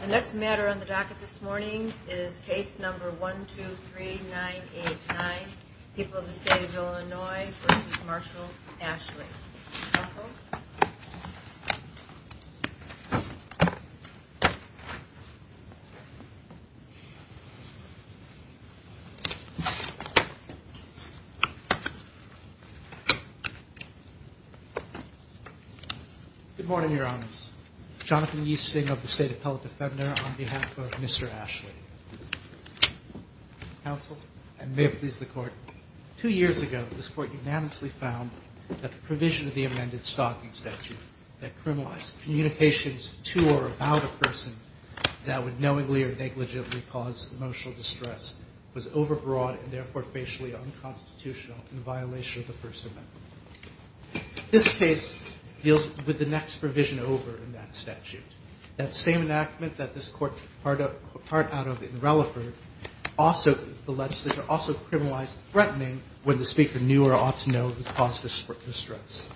The next matter on the docket this morning is case number 123989. People of the state of Illinois v. Marshall v. Ashley. Good morning, Your Honors. Jonathan Yeaston of the State Appellate Defender on behalf of Mr. Ashley. Counsel, and may it please the Court, two years ago this Court unanimously found that the provision of the amended stalking statute that criminalized communications to or about a person that would knowingly or negligibly cause emotional distress was overbroad and therefore facially unconstitutional in violation of the First Amendment. This case deals with the next provision over in that statute. That same enactment that this Court took part out of in Relaford, the legislature also criminalized threatening when the speaker knew or ought to know who caused the distress.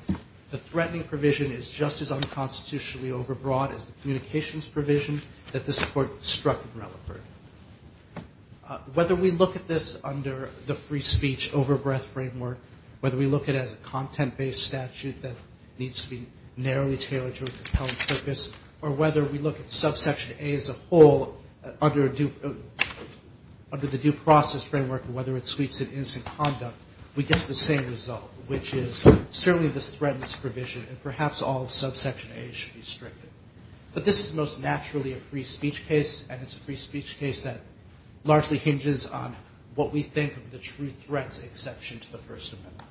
The threatening provision is just as unconstitutionally overbroad as the communications provision that this Court struck in Relaford. Whether we look at this under the free speech overbreath framework, whether we look at it as a content-based statute that needs to be narrowly tailored to a compelling purpose, or whether we look at subsection A as a whole under the due process framework and whether it suites an instant conduct, we get the same result, which is certainly the same result. This is a case that largely hinges on what we think of the true threats exception to the First Amendment.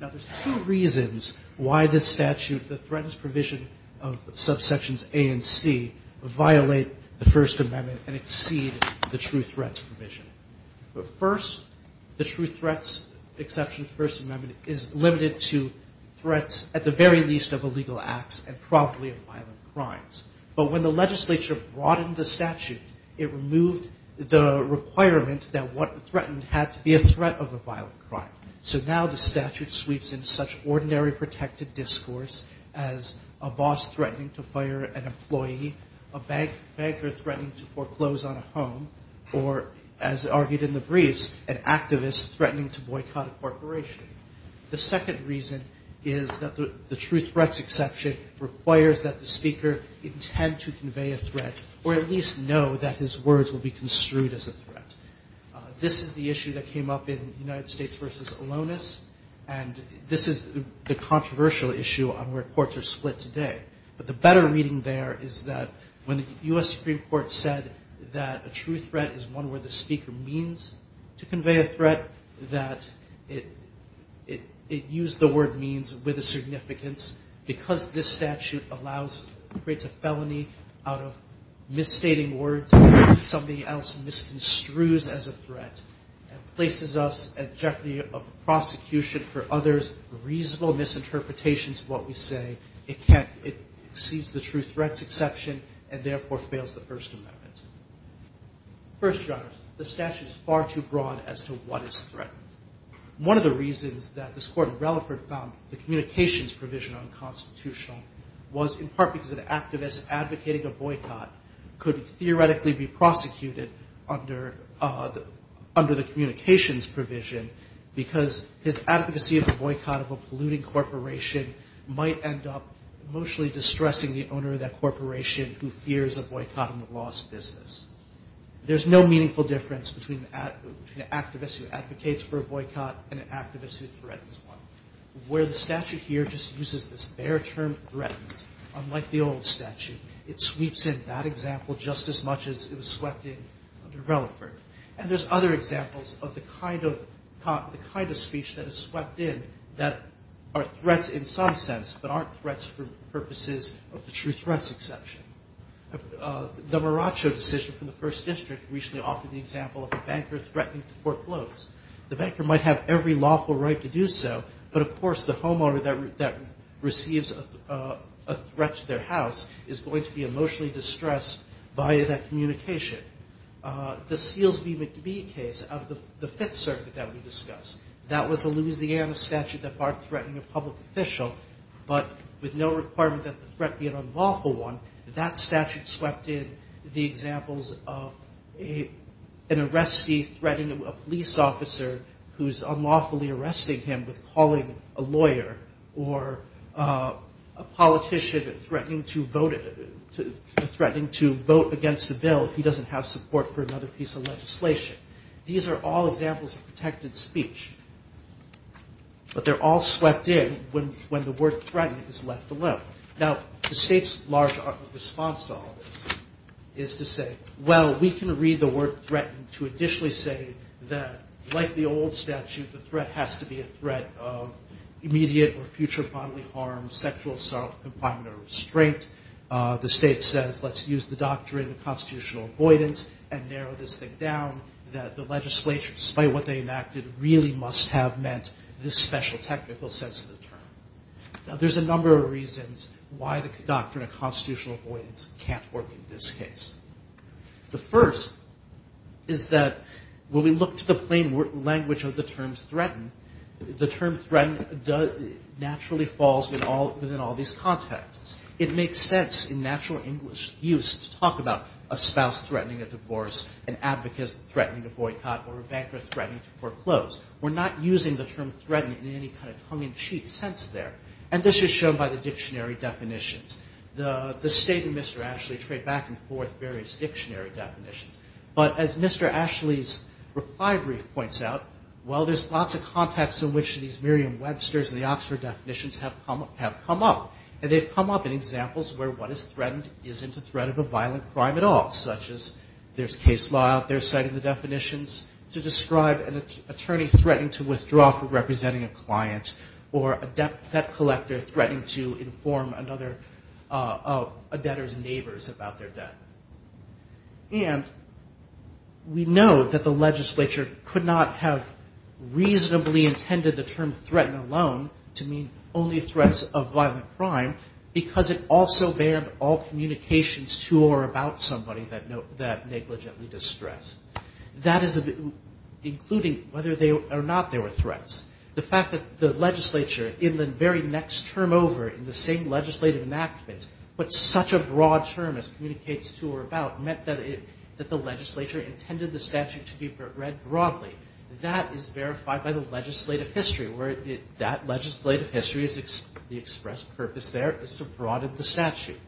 Now, there's two reasons why this statute, the threatens provision of subsections A and C, violate the First Amendment and exceed the true threats provision. But first, the true threats exception to the First Amendment is limited to threats at the very least of illegal acts and probably of violent crimes. But when the legislature broadened the statute, it removed the requirement that what threatened had to be a threat of a violent crime. So now the statute sweeps in such ordinary protected discourse as a boss threatening to fire an employee, a banker threatening to foreclose on a home, or as argued in the briefs, an activist threatening to boycott a corporation. The second reason is that the true threats exception requires that the speaker intend to convey a threat or at least know that his words will be construed as a threat. This is the issue that came up in United States v. Alonis, and this is the controversial issue on where courts are split today. But the better reading there is that when the U.S. Supreme Court said that a true threat is one where the speaker means to convey a threat, that it used the word means with a significance. Because this statute creates a felony out of misstating words, somebody else misconstrues as a threat and places us at jeopardy of prosecution for others' reasonable misinterpretations of what we say. It exceeds the true threats exception and therefore fails the First Amendment. First, Your Honors, the statute is far too broad as to what is threatened. One of the reasons that this Court of Relaford found the communications provision unconstitutional was in part because an activist advocating a boycott could theoretically be prosecuted under the communications provision because his advocacy of a boycott of a polluting corporation might end up emotionally distressing the owner of that corporation who fears a boycott on the law's business. There's no meaningful difference between an activist who advocates for a boycott and an activist who threatens one. Where the statute here just uses this bare term threatens, unlike the old statute, it sweeps in that example just as much as it was swept in under Relaford. And there's other examples of the kind of speech that is swept in that are threats in some sense but aren't threats for purposes of the true threats exception. The Maraccio decision from the First District recently offered the example of a banker threatening to foreclose. The banker might have every lawful right to do so, but of course the homeowner that receives a threat to their house is going to be emotionally distressed by that communication. The Seals v. McBee case out of the Fifth Circuit that we discussed, that was a Louisiana statute that barred threatening a public official, but with no requirement that the threat be an unlawful one, that statute swept in the examples of an arrestee threatening a police officer who's unlawfully arresting him with calling a lawyer or a politician threatening to vote against a bill if he doesn't have support for another piece of legislation. These are all examples of protected speech, but they're all swept in when the word threaten is left alone. Now, the state's large response to all this is to say, well, we can read the word threaten to additionally say that, like the old statute, the threat has to be a threat of immediate or future bodily harm, sexual assault, confinement, or restraint. The state says, let's use the doctrine of constitutional avoidance and narrow this thing down, that the legislature, despite what they enacted, really must have meant this special technical sense of the term. Now, there's a number of reasons why the doctrine of constitutional avoidance can't work in this case. The first is that when we look to the plain language of the term threaten, the term threaten naturally falls within all these contexts. It makes sense in natural English use to talk about a spouse threatening a divorce, an advocate threatening to boycott, or a banker threatening to foreclose. We're not using the term threaten in any kind of tongue-in-cheek sense there, and this is shown by the dictionary definitions. The state and Mr. Ashley trade back and forth various dictionary definitions, but as Mr. Ashley's reply brief points out, well, there's lots of contexts in which these Merriam-Webster's and the Oxford definitions have come up, and they've come up in examples where what is threatened isn't a threat of a violent crime at all, such as there's case law out there citing the definitions to describe an attorney threatening to withdraw from representing a client, or a debt collector threatening to inform another debtor's neighbors about their debt. And we know that the legislature could not have reasonably intended the term threaten alone to mean only threats of violent crime because it also banned all communications to or about somebody that negligently distressed, including whether or not they were threats. The fact that the legislature in the very next term over in the same legislative enactment put such a broad term as communicates to or about meant that the legislature intended the statute to be read broadly. That is verified by the legislative history, where that legislative history is the expressed purpose there is to broaden the statute.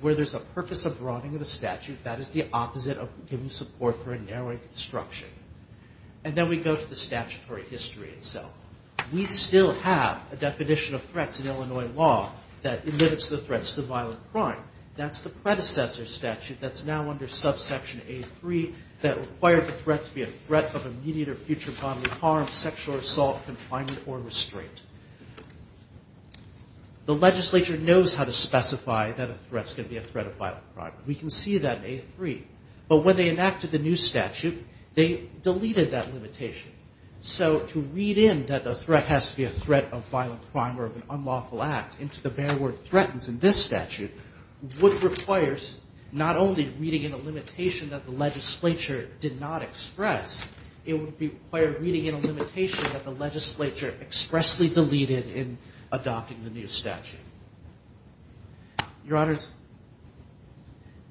Where there's a purpose of broadening of the statute, that is the opposite of giving support for a narrowing construction. And then we go to the statutory history itself. We still have a definition of threats in Illinois law that limits the threats to violent crime. That's the predecessor statute that's now under subsection A3 that required the threat to be a threat of immediate or future bodily harm, sexual assault, confinement, or restraint. The legislature knows how to specify that a threat's going to be a threat of violent crime. We can see that in A3. But when they enacted the new statute, they deleted that limitation. So to read in that the threat has to be a threat of violent crime or of an unlawful act into the bare word threatens in this statute would require not only reading in a limitation that the legislature did not express, it would require reading in a limitation that the legislature expressly deleted in adopting the new statute. Your Honors,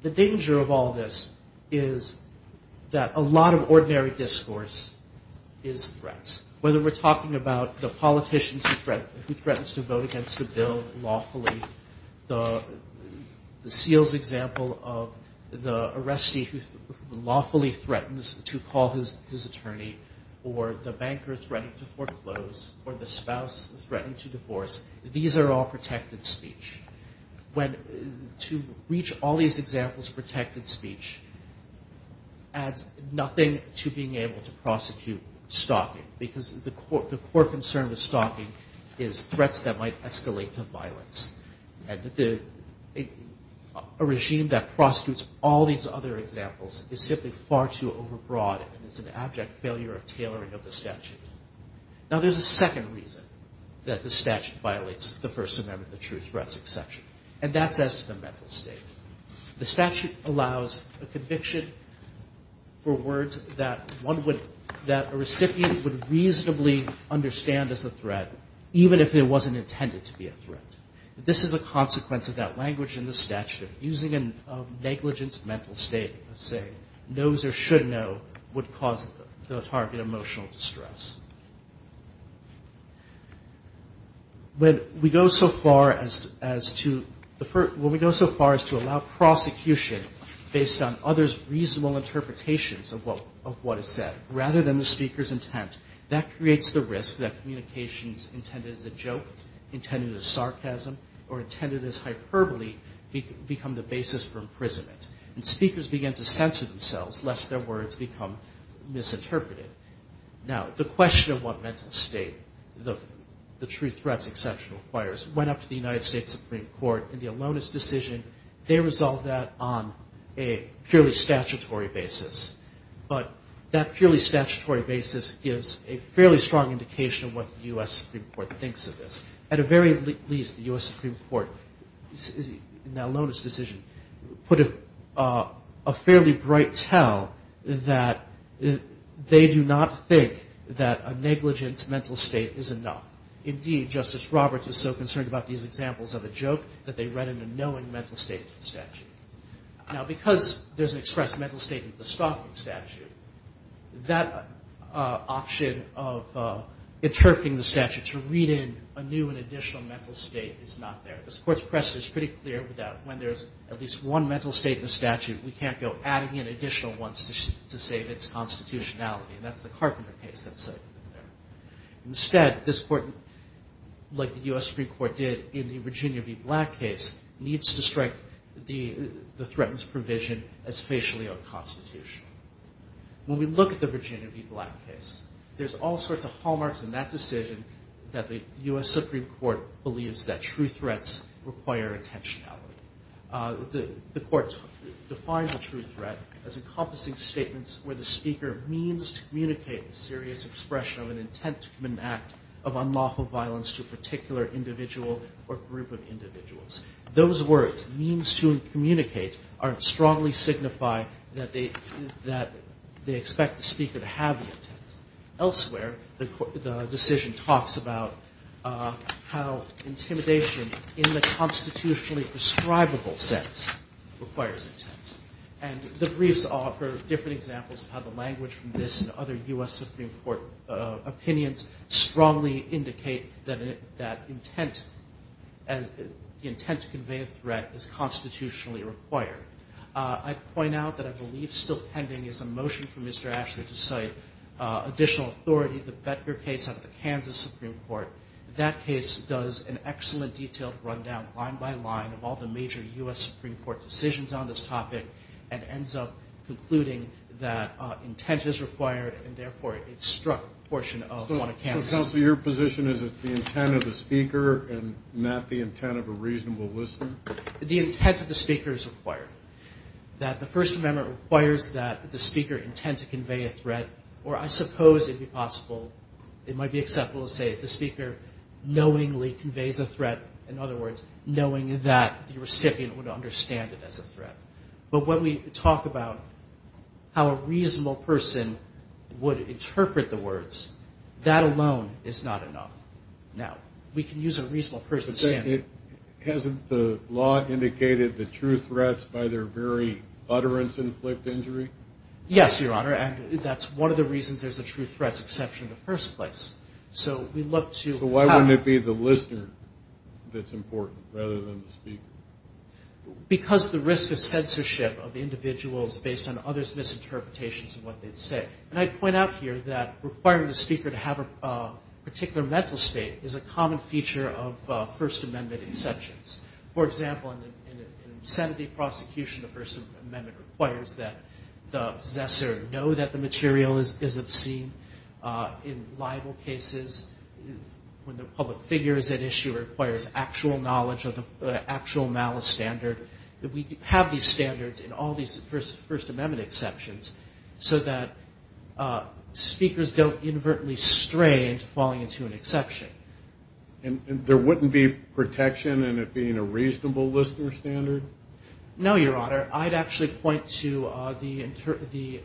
the danger of all this is that a lot of ordinary discourse is threats. Whether we're talking about the politicians who threatens to vote against the bill lawfully, the seals example of the arrestee who lawfully threatens to call his attorney, or the banker threatening to foreclose, or the spouse threatening to divorce. These are all protected speech. To reach all these examples of protected speech adds nothing to being able to prosecute stalking because the core concern with stalking is threats that might escalate to violence. A regime that prosecutes all these other examples is simply far too overbroad and is an abject failure of tailoring of the statute. Now there's a second reason that the statute violates the First Amendment, the true threats exception, and that's as to the mental state. The statute allows a conviction for words that one would, that a recipient would reasonably understand as a threat even if it wasn't intended to be a threat. This is a consequence of that language in the statute, using a negligence mental state of saying knows or should know would cause the target emotional distress. When we go so far as to allow prosecution based on others' reasonable interpretations of what is said, rather than the speaker's intent, that creates the risk that communications intended as a joke, intended as sarcasm, or intended as hyperbole become the basis for imprisonment. And speakers begin to censor themselves lest their words become misinterpreted. Now the question of what mental state, the true threats exception requires, went up to the United States Supreme Court in the Alonis decision. They resolved that on a purely statutory basis. But that purely statutory basis gives a fairly strong indication of what the U.S. Supreme Court thinks of this. At the very least, the U.S. Supreme Court, in that Alonis decision, put a fairly bright tell that they do not think that a negligence mental state is enough. Indeed, Justice Roberts was so concerned about these examples of a joke that they read in a knowing mental state statute. Now because there's an expressed mental state in the Stoffman statute, that option of interpreting the statute to read in a new and additional mental state is not there. This Court's precedent is pretty clear with that. When there's at least one mental state in a statute, we can't go adding in additional ones to save its constitutionality. And that's the Carpenter case that's in there. Instead, this Court, like the U.S. Supreme Court did in the Virginia v. Black case, needs to strike the threatened provision as facially unconstitutional. When we look at the Virginia v. Black case, there's all sorts of hallmarks in that decision that the U.S. Supreme Court believes that true threats require intentionality. The Court defines a true threat as encompassing statements where the speaker means to communicate a serious expression of an intent from an act of unlawful violence to a particular individual or group of individuals. Those words, means to communicate, strongly signify that they expect the speaker to have the intent. Elsewhere, the decision talks about how intimidation in the constitutionally prescribable sense requires intent. And the briefs offer different examples of how the language from this and other U.S. Supreme Court opinions strongly indicate that intent to convey a threat is constitutionally required. I'd point out that I believe still pending is a motion from Mr. Ashley to cite additional authority, the Becker case out of the Kansas Supreme Court. That case does an excellent detailed rundown, line by line, of all the major U.S. Supreme Court decisions on this topic and ends up concluding that intent is required and, therefore, it struck a portion of one of Kansas' Supreme Court. So, counsel, your position is it's the intent of the speaker and not the intent of a reasonable listener? The intent of the speaker is required. That the First Amendment requires that the speaker intend to convey a threat, or I suppose it would be possible, it might be acceptable to say that the speaker knowingly conveys a threat, in other words, knowing that the recipient would understand it as a threat. But when we talk about how a reasonable person would interpret the words, that alone is not enough. Now, we can use a reasonable person's standard. Hasn't the law indicated the true threats by their very utterance inflict injury? Yes, Your Honor, and that's one of the reasons there's a true threats exception in the first place. So we look to how- So why wouldn't it be the listener that's important rather than the speaker? Because the risk of censorship of individuals based on others' misinterpretations of what they say. And I'd point out here that requiring the speaker to have a particular mental state is a common feature of First Amendment exceptions. For example, in a Senate-based prosecution, the First Amendment requires that the possessor know that the material is obscene. In libel cases, when the public figure is at issue, it requires actual knowledge of the actual malice standard. That we have these standards in all these First Amendment exceptions, so that speakers don't inadvertently stray into falling into an exception. And there wouldn't be protection in it being a reasonable listener standard? No, Your Honor. I'd actually point to the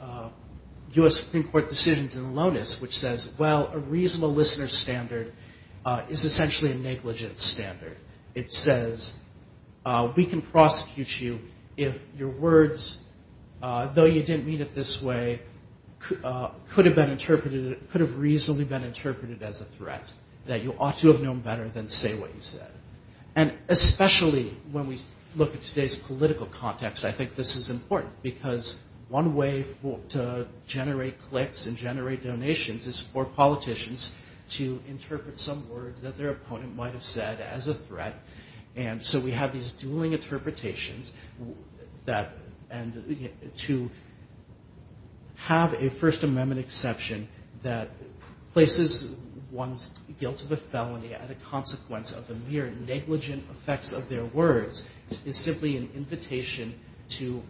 U.S. Supreme Court decisions in Lonis, which says, well, a reasonable listener standard is essentially a negligent standard. It says, we can prosecute you if your words, though you didn't mean it this way, could have reasonably been interpreted as a threat. That you ought to have known better than to say what you said. And especially when we look at today's political context, I think this is important. Because one way to generate clicks and generate donations is for politicians to interpret some words that their opponent might have said as a threat. And so we have these dueling interpretations that to have a First Amendment exception that places one's guilt of a felony at a consequence of the mere negligent effects of their words is simply an invitation to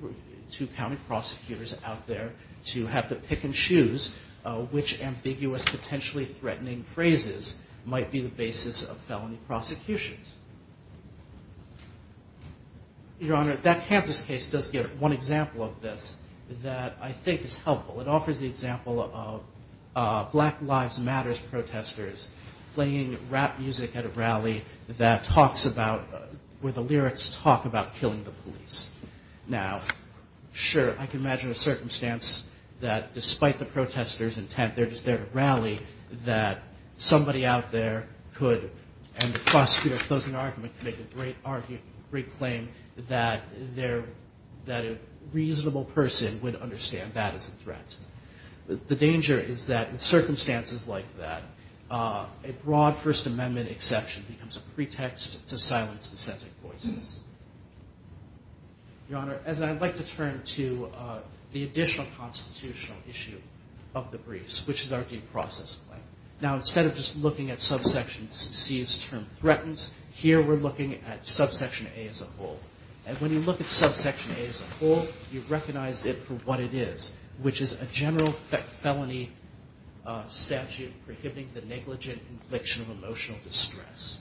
county prosecutors out there to have to pick and choose which ambiguous, potentially threatening phrases might be the basis of felony prosecutions. Your Honor, that Kansas case does give one example of this that I think is helpful. It offers the example of Black Lives Matters protesters playing rap music at a rally where the lyrics talk about killing the police. Now, sure, I can imagine a circumstance that despite the protester's intent, they're just there to rally, that somebody out there could, and the prosecutor's closing argument, could make a great claim that a reasonable person would understand that as a threat. The danger is that in circumstances like that, a broad First Amendment exception becomes a pretext to silence dissenting voices. Your Honor, as I'd like to turn to the additional constitutional issue of the briefs, which is our due process claim. Now, instead of just looking at subsection C's term, threatens, here we're looking at subsection A as a whole. And when you look at subsection A as a whole, you recognize it for what it is, which is a general felony statute prohibiting the negligent infliction of emotional distress.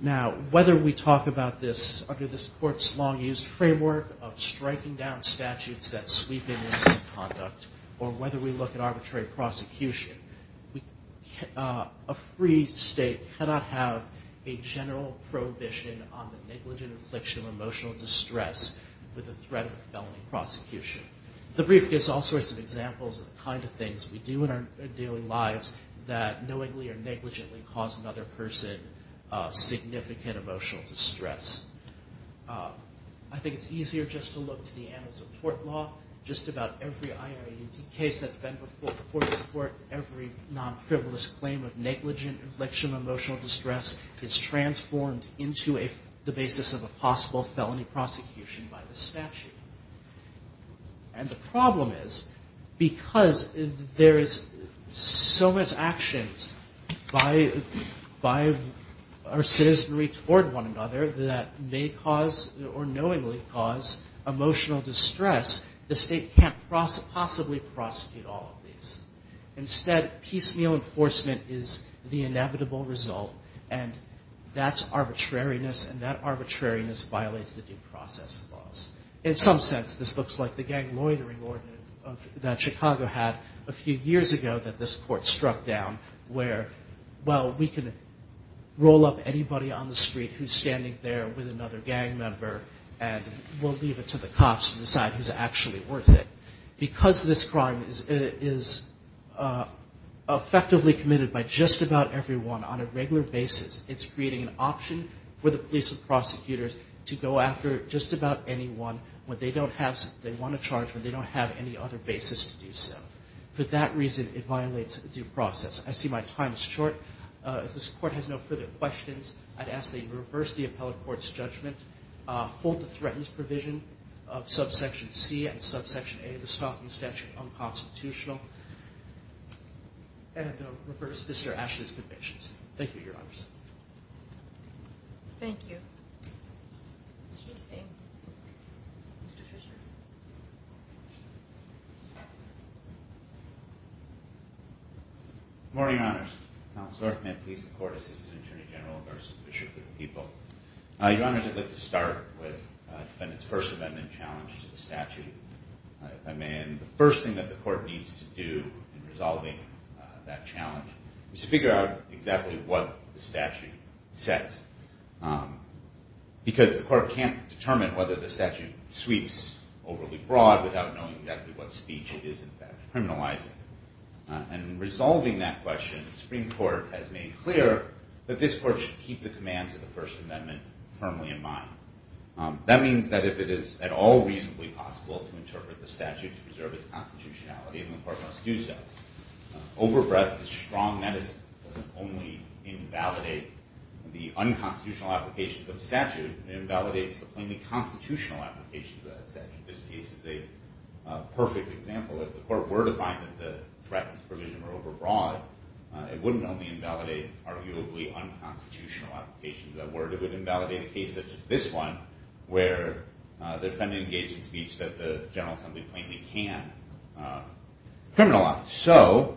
Now, whether we talk about this under this Court's long-used framework of striking down statutes that sweep in misconduct, or whether we look at arbitrary prosecution, a free state cannot have a general prohibition on the negligent infliction of emotional distress with the threat of felony prosecution. The brief gives all sorts of examples of the kind of things we do in our daily lives that knowingly or negligently cause another person significant emotional distress. I think it's easier just to look to the annals of court law. Just about every IIAD case that's been before this Court, every non-frivolous claim of negligent inflection of emotional distress is transformed into the basis of a possible felony prosecution by the statute. And the problem is, because there is so much action by our citizenry toward one another that may cause or knowingly cause emotional distress, the state can't possibly prosecute all of these. Instead, piecemeal enforcement is the inevitable result, and that's arbitrariness, and that arbitrariness violates the due process laws. In some sense, this looks like the gang loitering ordinance that Chicago had a few years ago that this Court struck down, where, well, we can roll up anybody on the street who's standing there with another gang member, and we'll leave it to the cops to decide who's actually worth it. Because this crime is effectively committed by just about everyone on a regular basis, it's creating an option for the police and prosecutors to go after just about anyone when they want to charge, but they don't have any other basis to do so. For that reason, it violates the due process. I see my time is short. If this Court has no further questions, I'd ask that you reverse the appellate court's judgment, hold the threatened provision of subsection C and subsection A of the Stockton statute unconstitutional, and reverse Mr. Ashley's convictions. Thank you, Your Honors. Thank you. Mr. Eustone. Mr. Fisher. Good morning, Your Honors. I'm Counselor Arthur Mantis, the Court Assistant Attorney General of Arson Fisher for the People. Your Honors, I'd like to start with the defendant's first amendment challenge to the statute. If I may, the first thing that the Court needs to do in resolving that challenge is to figure out exactly what the statute says, because the Court can't determine whether the statute sweeps overly broad without knowing exactly what speech it is, in fact, criminalizing. In resolving that question, the Supreme Court has made clear that this Court should keep the commands of the first amendment firmly in mind. That means that if it is at all reasonably possible to interpret the statute to preserve its constitutionality, and the Court must do so, overbreadth is strong medicine. It doesn't only invalidate the unconstitutional applications of the statute, it invalidates the plainly constitutional applications of that statute. This case is a perfect example. If the Court were to find that the threat and its provision were overbroad, it wouldn't only invalidate arguably unconstitutional applications that were, it would invalidate a case such as this one, where the defendant engaged in speech that the General Assembly plainly can criminalize. So,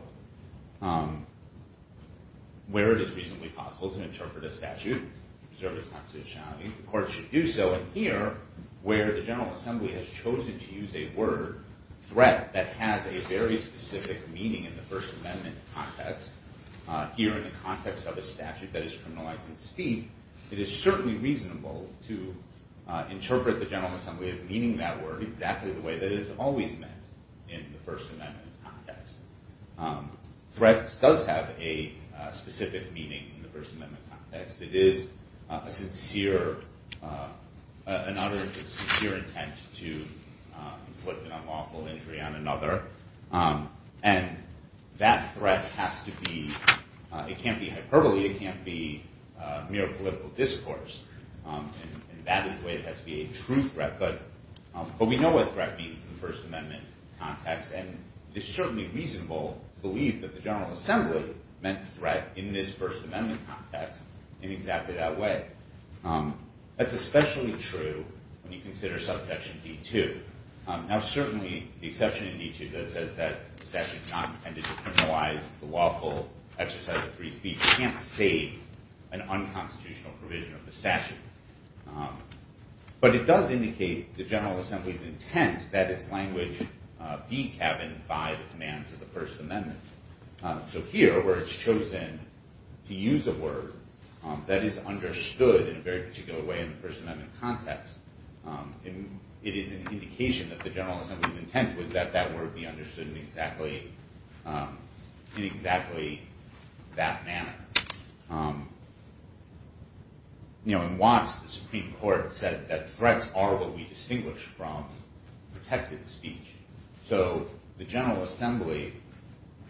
where it is reasonably possible to interpret a statute to preserve its constitutionality, the Court should do so. And here, where the General Assembly has chosen to use a word, threat, that has a very specific meaning in the first amendment context, here in the context of a statute that is criminalizing speech, it is certainly reasonable to interpret the General Assembly as meaning that word exactly the way that it has always meant in the first amendment context. Threat does have a specific meaning in the first amendment context. It is a sincere, another sincere intent to inflict an unlawful injury on another. And that threat has to be, it can't be hyperbole, it can't be mere political discourse, and that is the way it has to be a true threat. But we know what threat means in the first amendment context, and it's certainly reasonable to believe that the General Assembly meant threat in this first amendment context in exactly that way. That's especially true when you consider subsection D2. Now certainly, the exception in D2 that says that the section is not intended to criminalize the lawful exercise of free speech can't save an unconstitutional provision of the statute. But it does indicate the General Assembly's intent that its language be cabined by the commands of the first amendment. So here, where it's chosen to use a word that is understood in a very particular way in the first amendment context, it is an indication that the General Assembly's intent was that that word be understood in exactly that manner. In Watts, the Supreme Court said that threats are what we distinguish from protected speech. So the General Assembly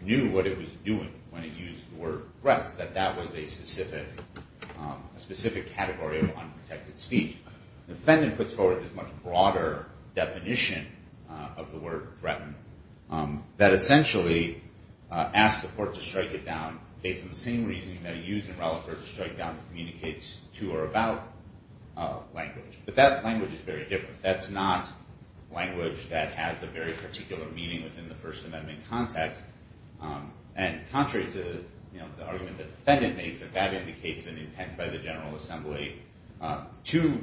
knew what it was doing when it used the word threats, that that was a specific category of unprotected speech. The defendant puts forward this much broader definition of the word threaten that essentially asks the court to strike it down based on the same reasoning that it used in Rallifer to strike down the communicates to or about language. But that language is very different. That's not language that has a very particular meaning within the first amendment context. And contrary to the argument the defendant makes, that that indicates an intent by the General Assembly to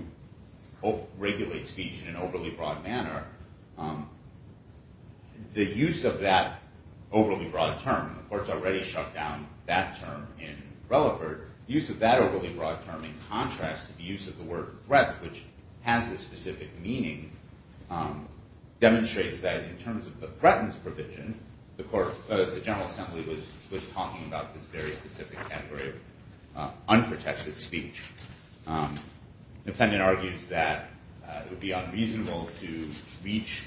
regulate speech in an overly broad manner, the use of that overly broad term, the court's already shut down that term in Rallifer, the use of that overly broad term in contrast to the use of the word threat, which has this specific meaning, demonstrates that in terms of the threatens provision, the General Assembly was talking about this very specific category of unprotected speech. The defendant argues that it would be unreasonable to reach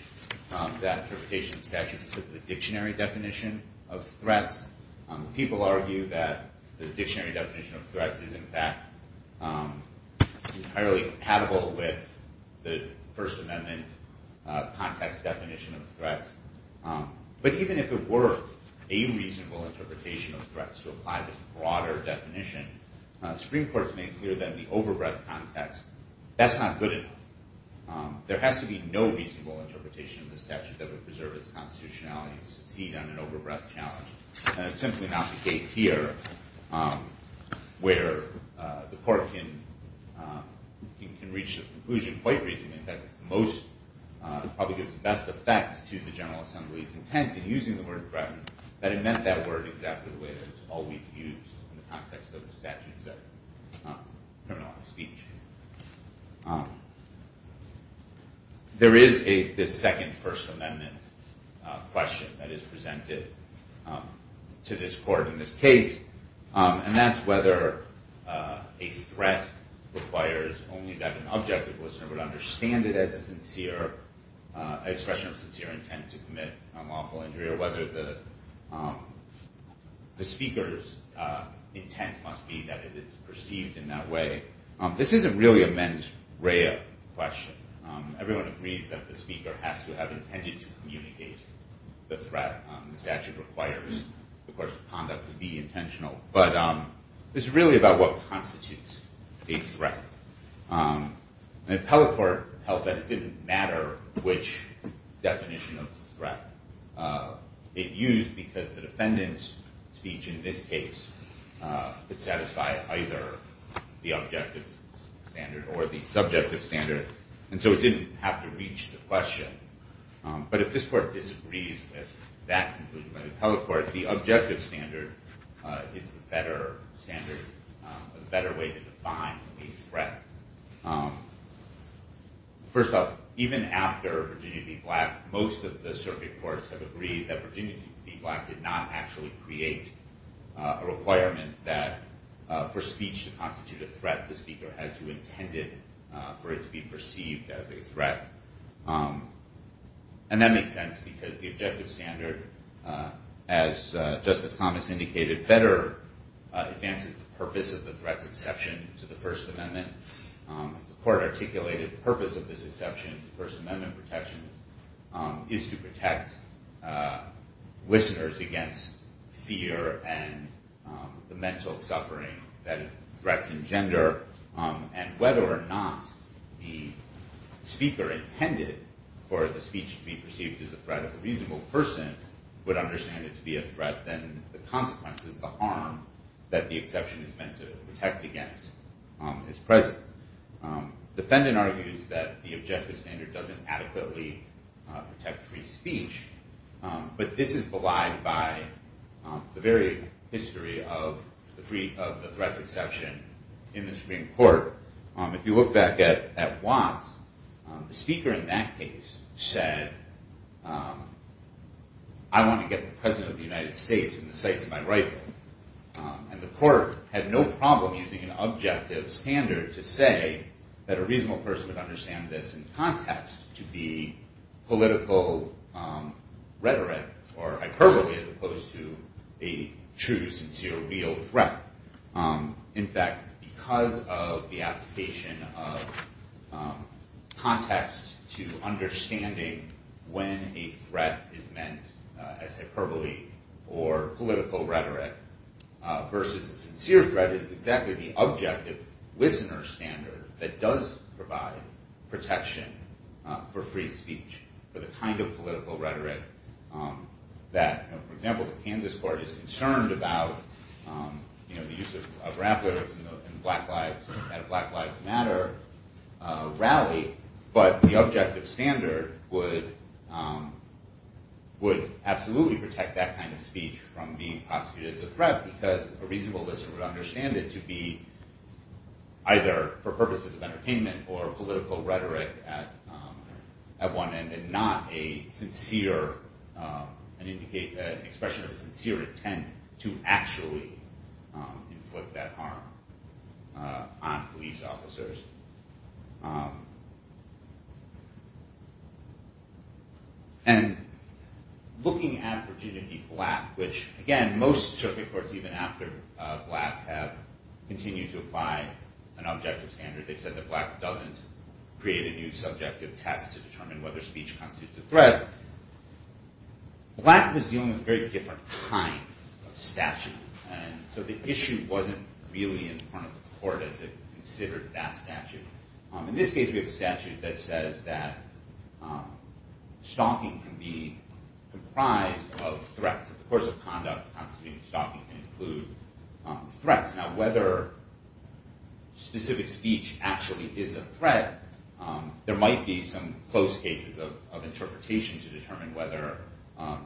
that interpretation statute with the dictionary definition of threats. People argue that the dictionary definition of threats is in fact entirely compatible with the first amendment context definition of threats. But even if it were a reasonable interpretation of threats to apply the broader definition, Supreme Court has made clear that in the over breadth context, that's not good enough. There has to be no reasonable interpretation of the statute that would preserve its constitutionality and succeed on an over breadth challenge. And it's simply not the case here where the court can reach the conclusion quite reasonably that it probably gives the best effect to the General Assembly's intent in using the word threaten, that it meant that word exactly the way that it's always used in the context of the statutes that criminalize speech. There is this second first amendment question that is presented to this court in this case, and that's whether a threat requires only that an objective listener would understand it as a sincere expression of sincere intent to commit an unlawful injury, or whether the speaker's intent must be that it is perceived in that way. This isn't really a mens rea question. Everyone agrees that the speaker has to have intended to communicate the threat. The statute requires the course of conduct to be intentional, but it's really about what constitutes a threat. The appellate court held that it didn't matter which definition of threat it used because the defendant's speech in this case could satisfy either the objective standard or the subjective standard, and so it didn't have to reach the question. But if this court disagrees with that conclusion by the appellate court, the objective standard is the better standard, a better way to define a threat. First off, even after Virginia v. Black, most of the circuit courts have agreed that Virginia v. Black did not actually create a requirement for speech to constitute a threat. The speaker had to have intended for it to be perceived as a threat, and that makes sense because the objective standard, as Justice Thomas indicated, better advances the purpose of the threat's exception to the First Amendment. As the court articulated, the purpose of this exception to First Amendment protections is to protect listeners against fear and the mental suffering that threats engender, and whether or not the speaker intended for the speech to be perceived as a threat of a reasonable person would understand it to be a threat, then the consequences, the harm that the exception is meant to protect against is present. The defendant argues that the objective standard doesn't adequately protect free speech, but this is belied by the very history of the threat's exception in the Supreme Court. If you look back at Watts, the speaker in that case said, I want to get the President of the United States in the sights of my rifle, and the court had no problem using an objective standard to say that a reasonable person would understand this in context to be political rhetoric or hyperbole as opposed to a true, sincere, real threat. In fact, because of the application of context to understanding when a threat is meant as hyperbole or political rhetoric versus a sincere threat is exactly the objective listener standard that does provide protection for free speech, for the kind of political rhetoric that, for example, the Kansas court is concerned about the use of rap lyrics in Black Lives Matter rally, but the objective standard would absolutely protect that kind of speech from being prosecuted as a threat because a reasonable listener would understand it to be either for purposes of entertainment or political rhetoric at one end and not an expression of a sincere intent to actually inflict that harm on police officers. And looking at Virginia v. Black, which, again, most circuit courts, even after Black, have continued to apply an objective standard. They've said that Black doesn't create a new subjective test to determine whether speech constitutes a threat. Black was dealing with a very different kind of statute, and so the issue wasn't really in front of the court as it considered that statute. In this case, we have a statute that says that stalking can be comprised of threats. The course of conduct constituting stalking can include threats. Now, whether specific speech actually is a threat, there might be some close cases of interpretation to determine whether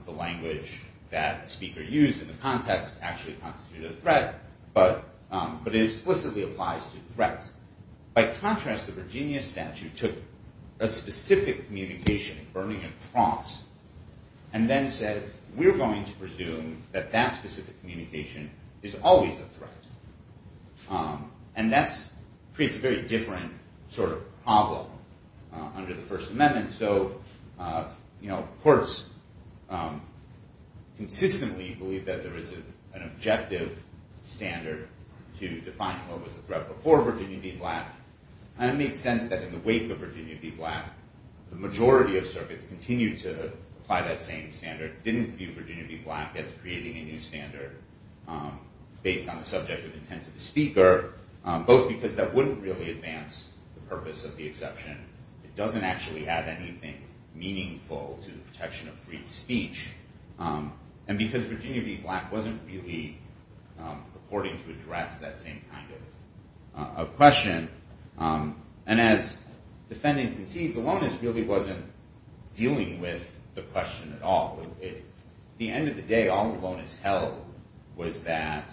the language that the speaker used in the context actually constitutes a threat, but it explicitly applies to threats. By contrast, the Virginia statute took a specific communication, and then said, we're going to presume that that specific communication is always a threat, and that creates a very different sort of problem under the First Amendment. So courts consistently believe that there is an objective standard to define what was a threat before Virginia v. Black, and it makes sense that in the wake of Virginia v. Black, the majority of circuits continued to apply that same standard, didn't view Virginia v. Black as creating a new standard based on the subject of intent of the speaker, both because that wouldn't really advance the purpose of the exception. It doesn't actually add anything meaningful to the protection of free speech, and because Virginia v. Black wasn't really purporting to address that same kind of question. And as the defendant concedes, Alonis really wasn't dealing with the question at all. At the end of the day, all Alonis held was that,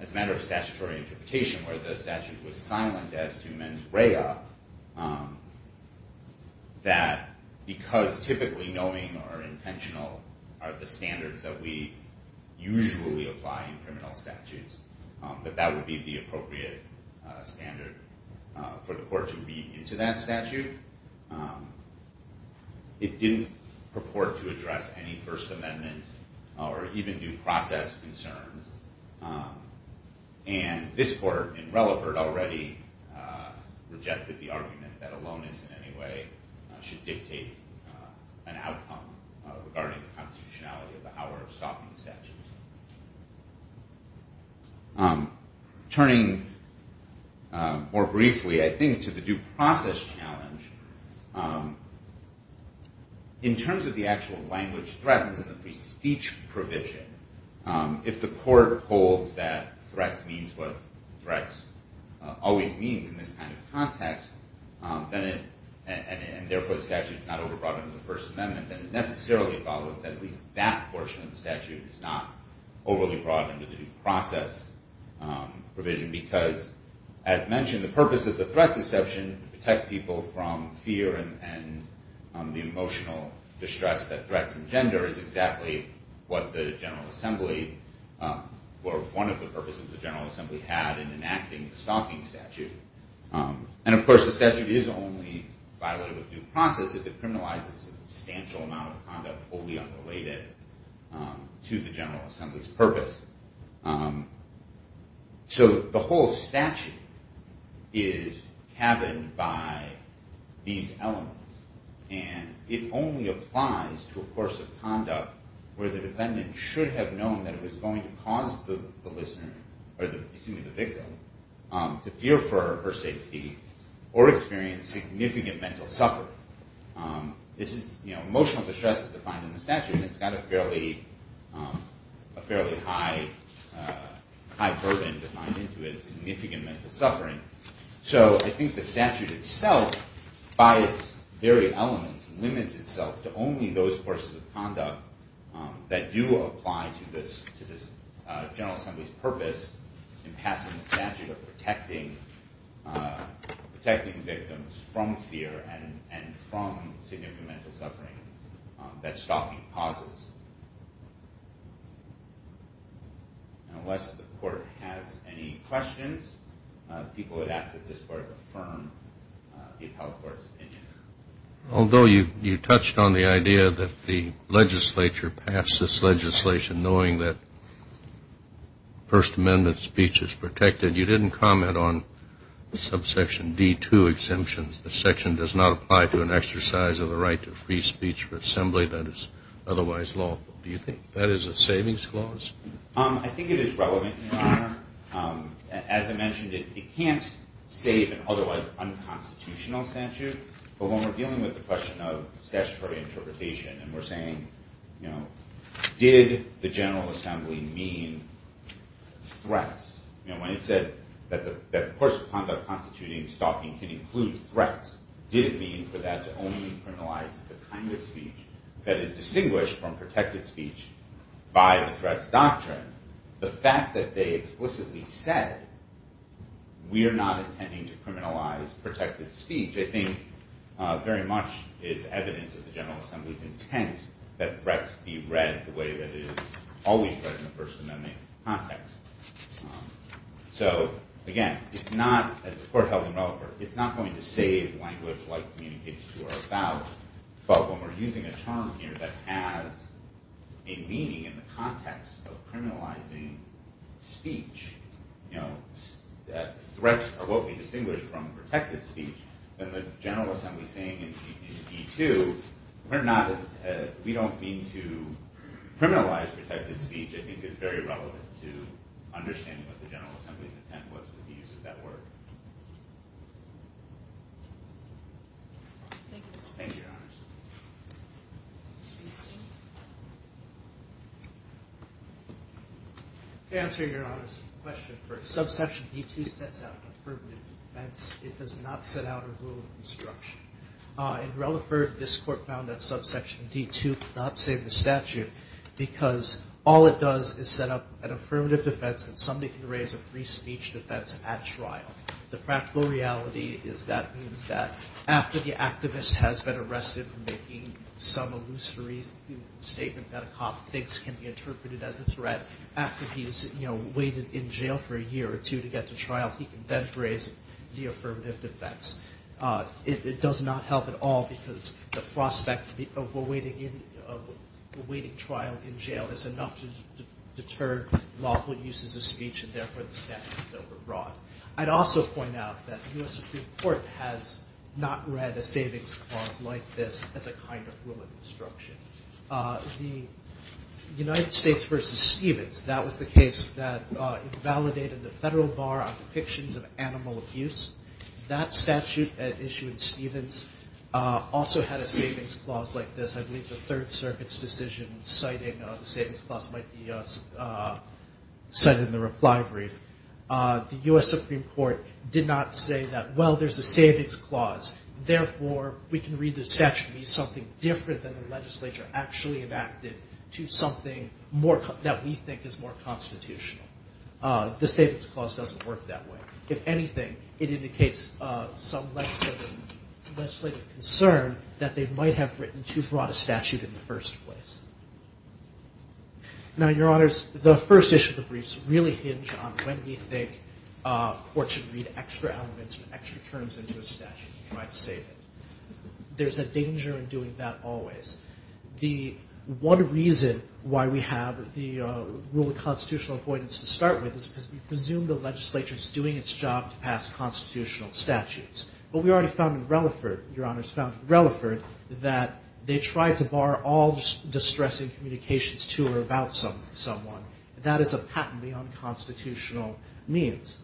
as a matter of statutory interpretation, where the statute was silent as to mens rea, that because typically knowing or intentional are the standards that we usually apply in criminal statutes, that that would be the appropriate standard for the court to read into that statute. It didn't purport to address any First Amendment or even due process concerns. And this court in Relaford already rejected the argument that Alonis in any way should dictate an outcome regarding the constitutionality of the power of stopping the statute. Turning more briefly, I think, to the due process challenge, in terms of the actual language threatened in the free speech provision, if the court holds that threats means what threats always means in this kind of context, and therefore the statute is not over-broadened in the First Amendment, then it necessarily follows that at least that portion of the statute is not overly broadened in the due process provision, because, as mentioned, the purpose of the threats exception to protect people from fear and the emotional distress that threats engender is exactly what the General Assembly, or one of the purposes the General Assembly had in enacting the stalking statute. And, of course, the statute is only violated with due process if it criminalizes a substantial amount of conduct wholly unrelated to the General Assembly's purpose. So the whole statute is cabined by these elements, and it only applies to a course of conduct where the defendant should have known that it was going to cause the victim to fear for her safety or experience significant mental suffering. Emotional distress is defined in the statute, and it's got a fairly high burden defined into it, significant mental suffering. So I think the statute itself, by its very elements, limits itself to only those courses of conduct that do apply to this General Assembly's purpose in passing the statute of protecting victims from fear and from significant mental suffering that stalking causes. Unless the Court has any questions, people would ask that this Court affirm the appellate court's opinion. Although you touched on the idea that the legislature passed this legislation knowing that First Amendment speech is protected, you didn't comment on subsection D2 exemptions, the section does not apply to an exercise of the right to free speech for assembly that is otherwise lawful. Do you think that is a savings clause? I think it is relevant, Your Honor. As I mentioned, it can't save an otherwise unconstitutional statute, but when we're dealing with the question of statutory interpretation and we're saying, did the General Assembly mean threats? When it said that the course of conduct constituting stalking can include threats, did it mean for that to only criminalize the kind of speech that is distinguished from protected speech by the threats doctrine? The fact that they explicitly said, we are not intending to criminalize protected speech, which I think very much is evidence of the General Assembly's intent that threats be read the way that it is always read in the First Amendment context. So, again, it's not, as the Court held in Relaford, it's not going to save language like communicates to or about, but when we're using a term here that has a meaning in the context of criminalizing speech, that threats are what we distinguish from protected speech, then the General Assembly saying in E2, we don't mean to criminalize protected speech, I think it's very relevant to understanding what the General Assembly's intent was when it uses that word. Thank you, Your Honor. To answer Your Honor's question first, subsection D2 sets out affirmative defense, it does not set out a rule of instruction. In Relaford, this Court found that subsection D2 could not save the statute because all it does is set up an affirmative defense that somebody can raise a free speech defense at trial. The practical reality is that means that after the activist has been arrested for making some illusory statement that a cop thinks can be interpreted as a threat, after he's, you know, waited in jail for a year or two to get to trial, he can then raise the affirmative defense. It does not help at all because the prospect of awaiting trial in jail is enough to deter lawful uses of speech and therefore the statute is overbroad. I'd also point out that the U.S. Supreme Court has not read a savings clause like this as a kind of rule of instruction. The United States versus Stevens, that was the case that invalidated the federal bar on depictions of animal abuse. That statute issued in Stevens also had a savings clause like this. I believe the Third Circuit's decision citing the savings clause might be cited in the reply brief. The U.S. Supreme Court did not say that, well, there's a savings clause, therefore we can read the statute to be something different than the legislature actually enacted to something that we think is more constitutional. The savings clause doesn't work that way. If anything, it indicates some legislative concern that they might have written too broad a statute in the first place. Now, Your Honors, the first issue of the briefs really hinge on when we think courts should read extra elements or extra terms into a statute to try to save it. There's a danger in doing that always. The one reason why we have the rule of constitutional avoidance to start with is because we presume the legislature is doing its job to pass constitutional statutes. But we already found in Relaford, Your Honors, found in Relaford that they tried to bar all distressing communications to or about someone. That is a patently unconstitutional means.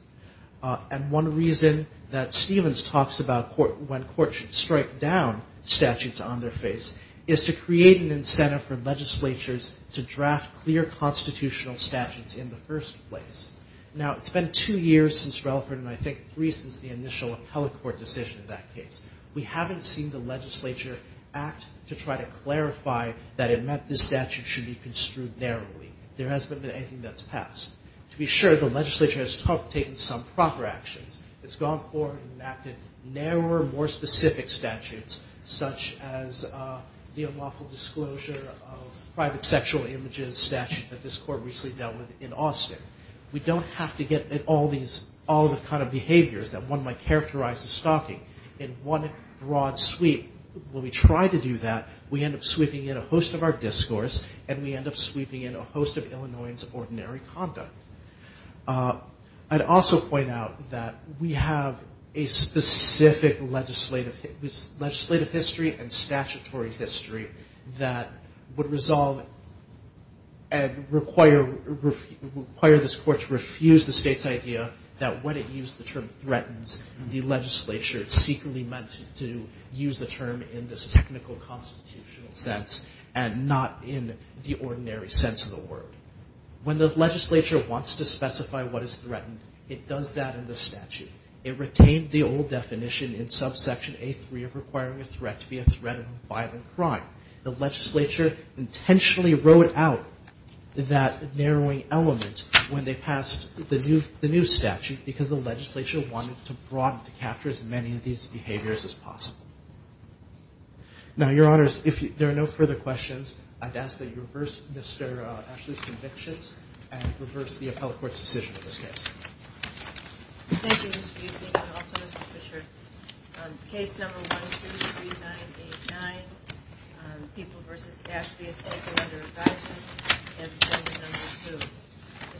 And one reason that Stevens talks about when courts should strike down statutes on their face is to create an incentive for legislatures to draft clear constitutional statutes in the first place. Now, it's been two years since Relaford, and I think three since the initial appellate court decision in that case. We haven't seen the legislature act to try to clarify that it meant this statute should be construed narrowly. There hasn't been anything that's passed. To be sure, the legislature has taken some proper actions. It's gone forward and enacted narrower, more specific statutes, such as the unlawful disclosure of private sexual images statute that this court recently dealt with in Austin. We don't have to get at all the kind of behaviors that one might characterize as stalking in one broad sweep. When we try to do that, we end up sweeping in a host of our discourse, and we end up sweeping in a host of Illinoisans' ordinary conduct. I'd also point out that we have a specific legislative history and statutory history that would resolve and require this court to refuse the state's idea that when it used the term threatens, the legislature secretly meant to use the term in this technical constitutional sense and not in the ordinary sense of the word. When the legislature wants to specify what is threatened, it does that in the statute. It retained the old definition in subsection A3 of requiring a threat to be a threat of a violent crime. The legislature intentionally wrote out that narrowing element when they passed the new statute because the legislature wanted to broaden to capture as many of these behaviors as possible. Now, Your Honors, if there are no further questions, I'd ask that you reverse Mr. Ashley's convictions and reverse the appellate court's decision in this case. Thank you, Mr. Buesing, and also Mr. Fisher. Case number 123989, People v. Ashley, is taken under abidance. Case number 2.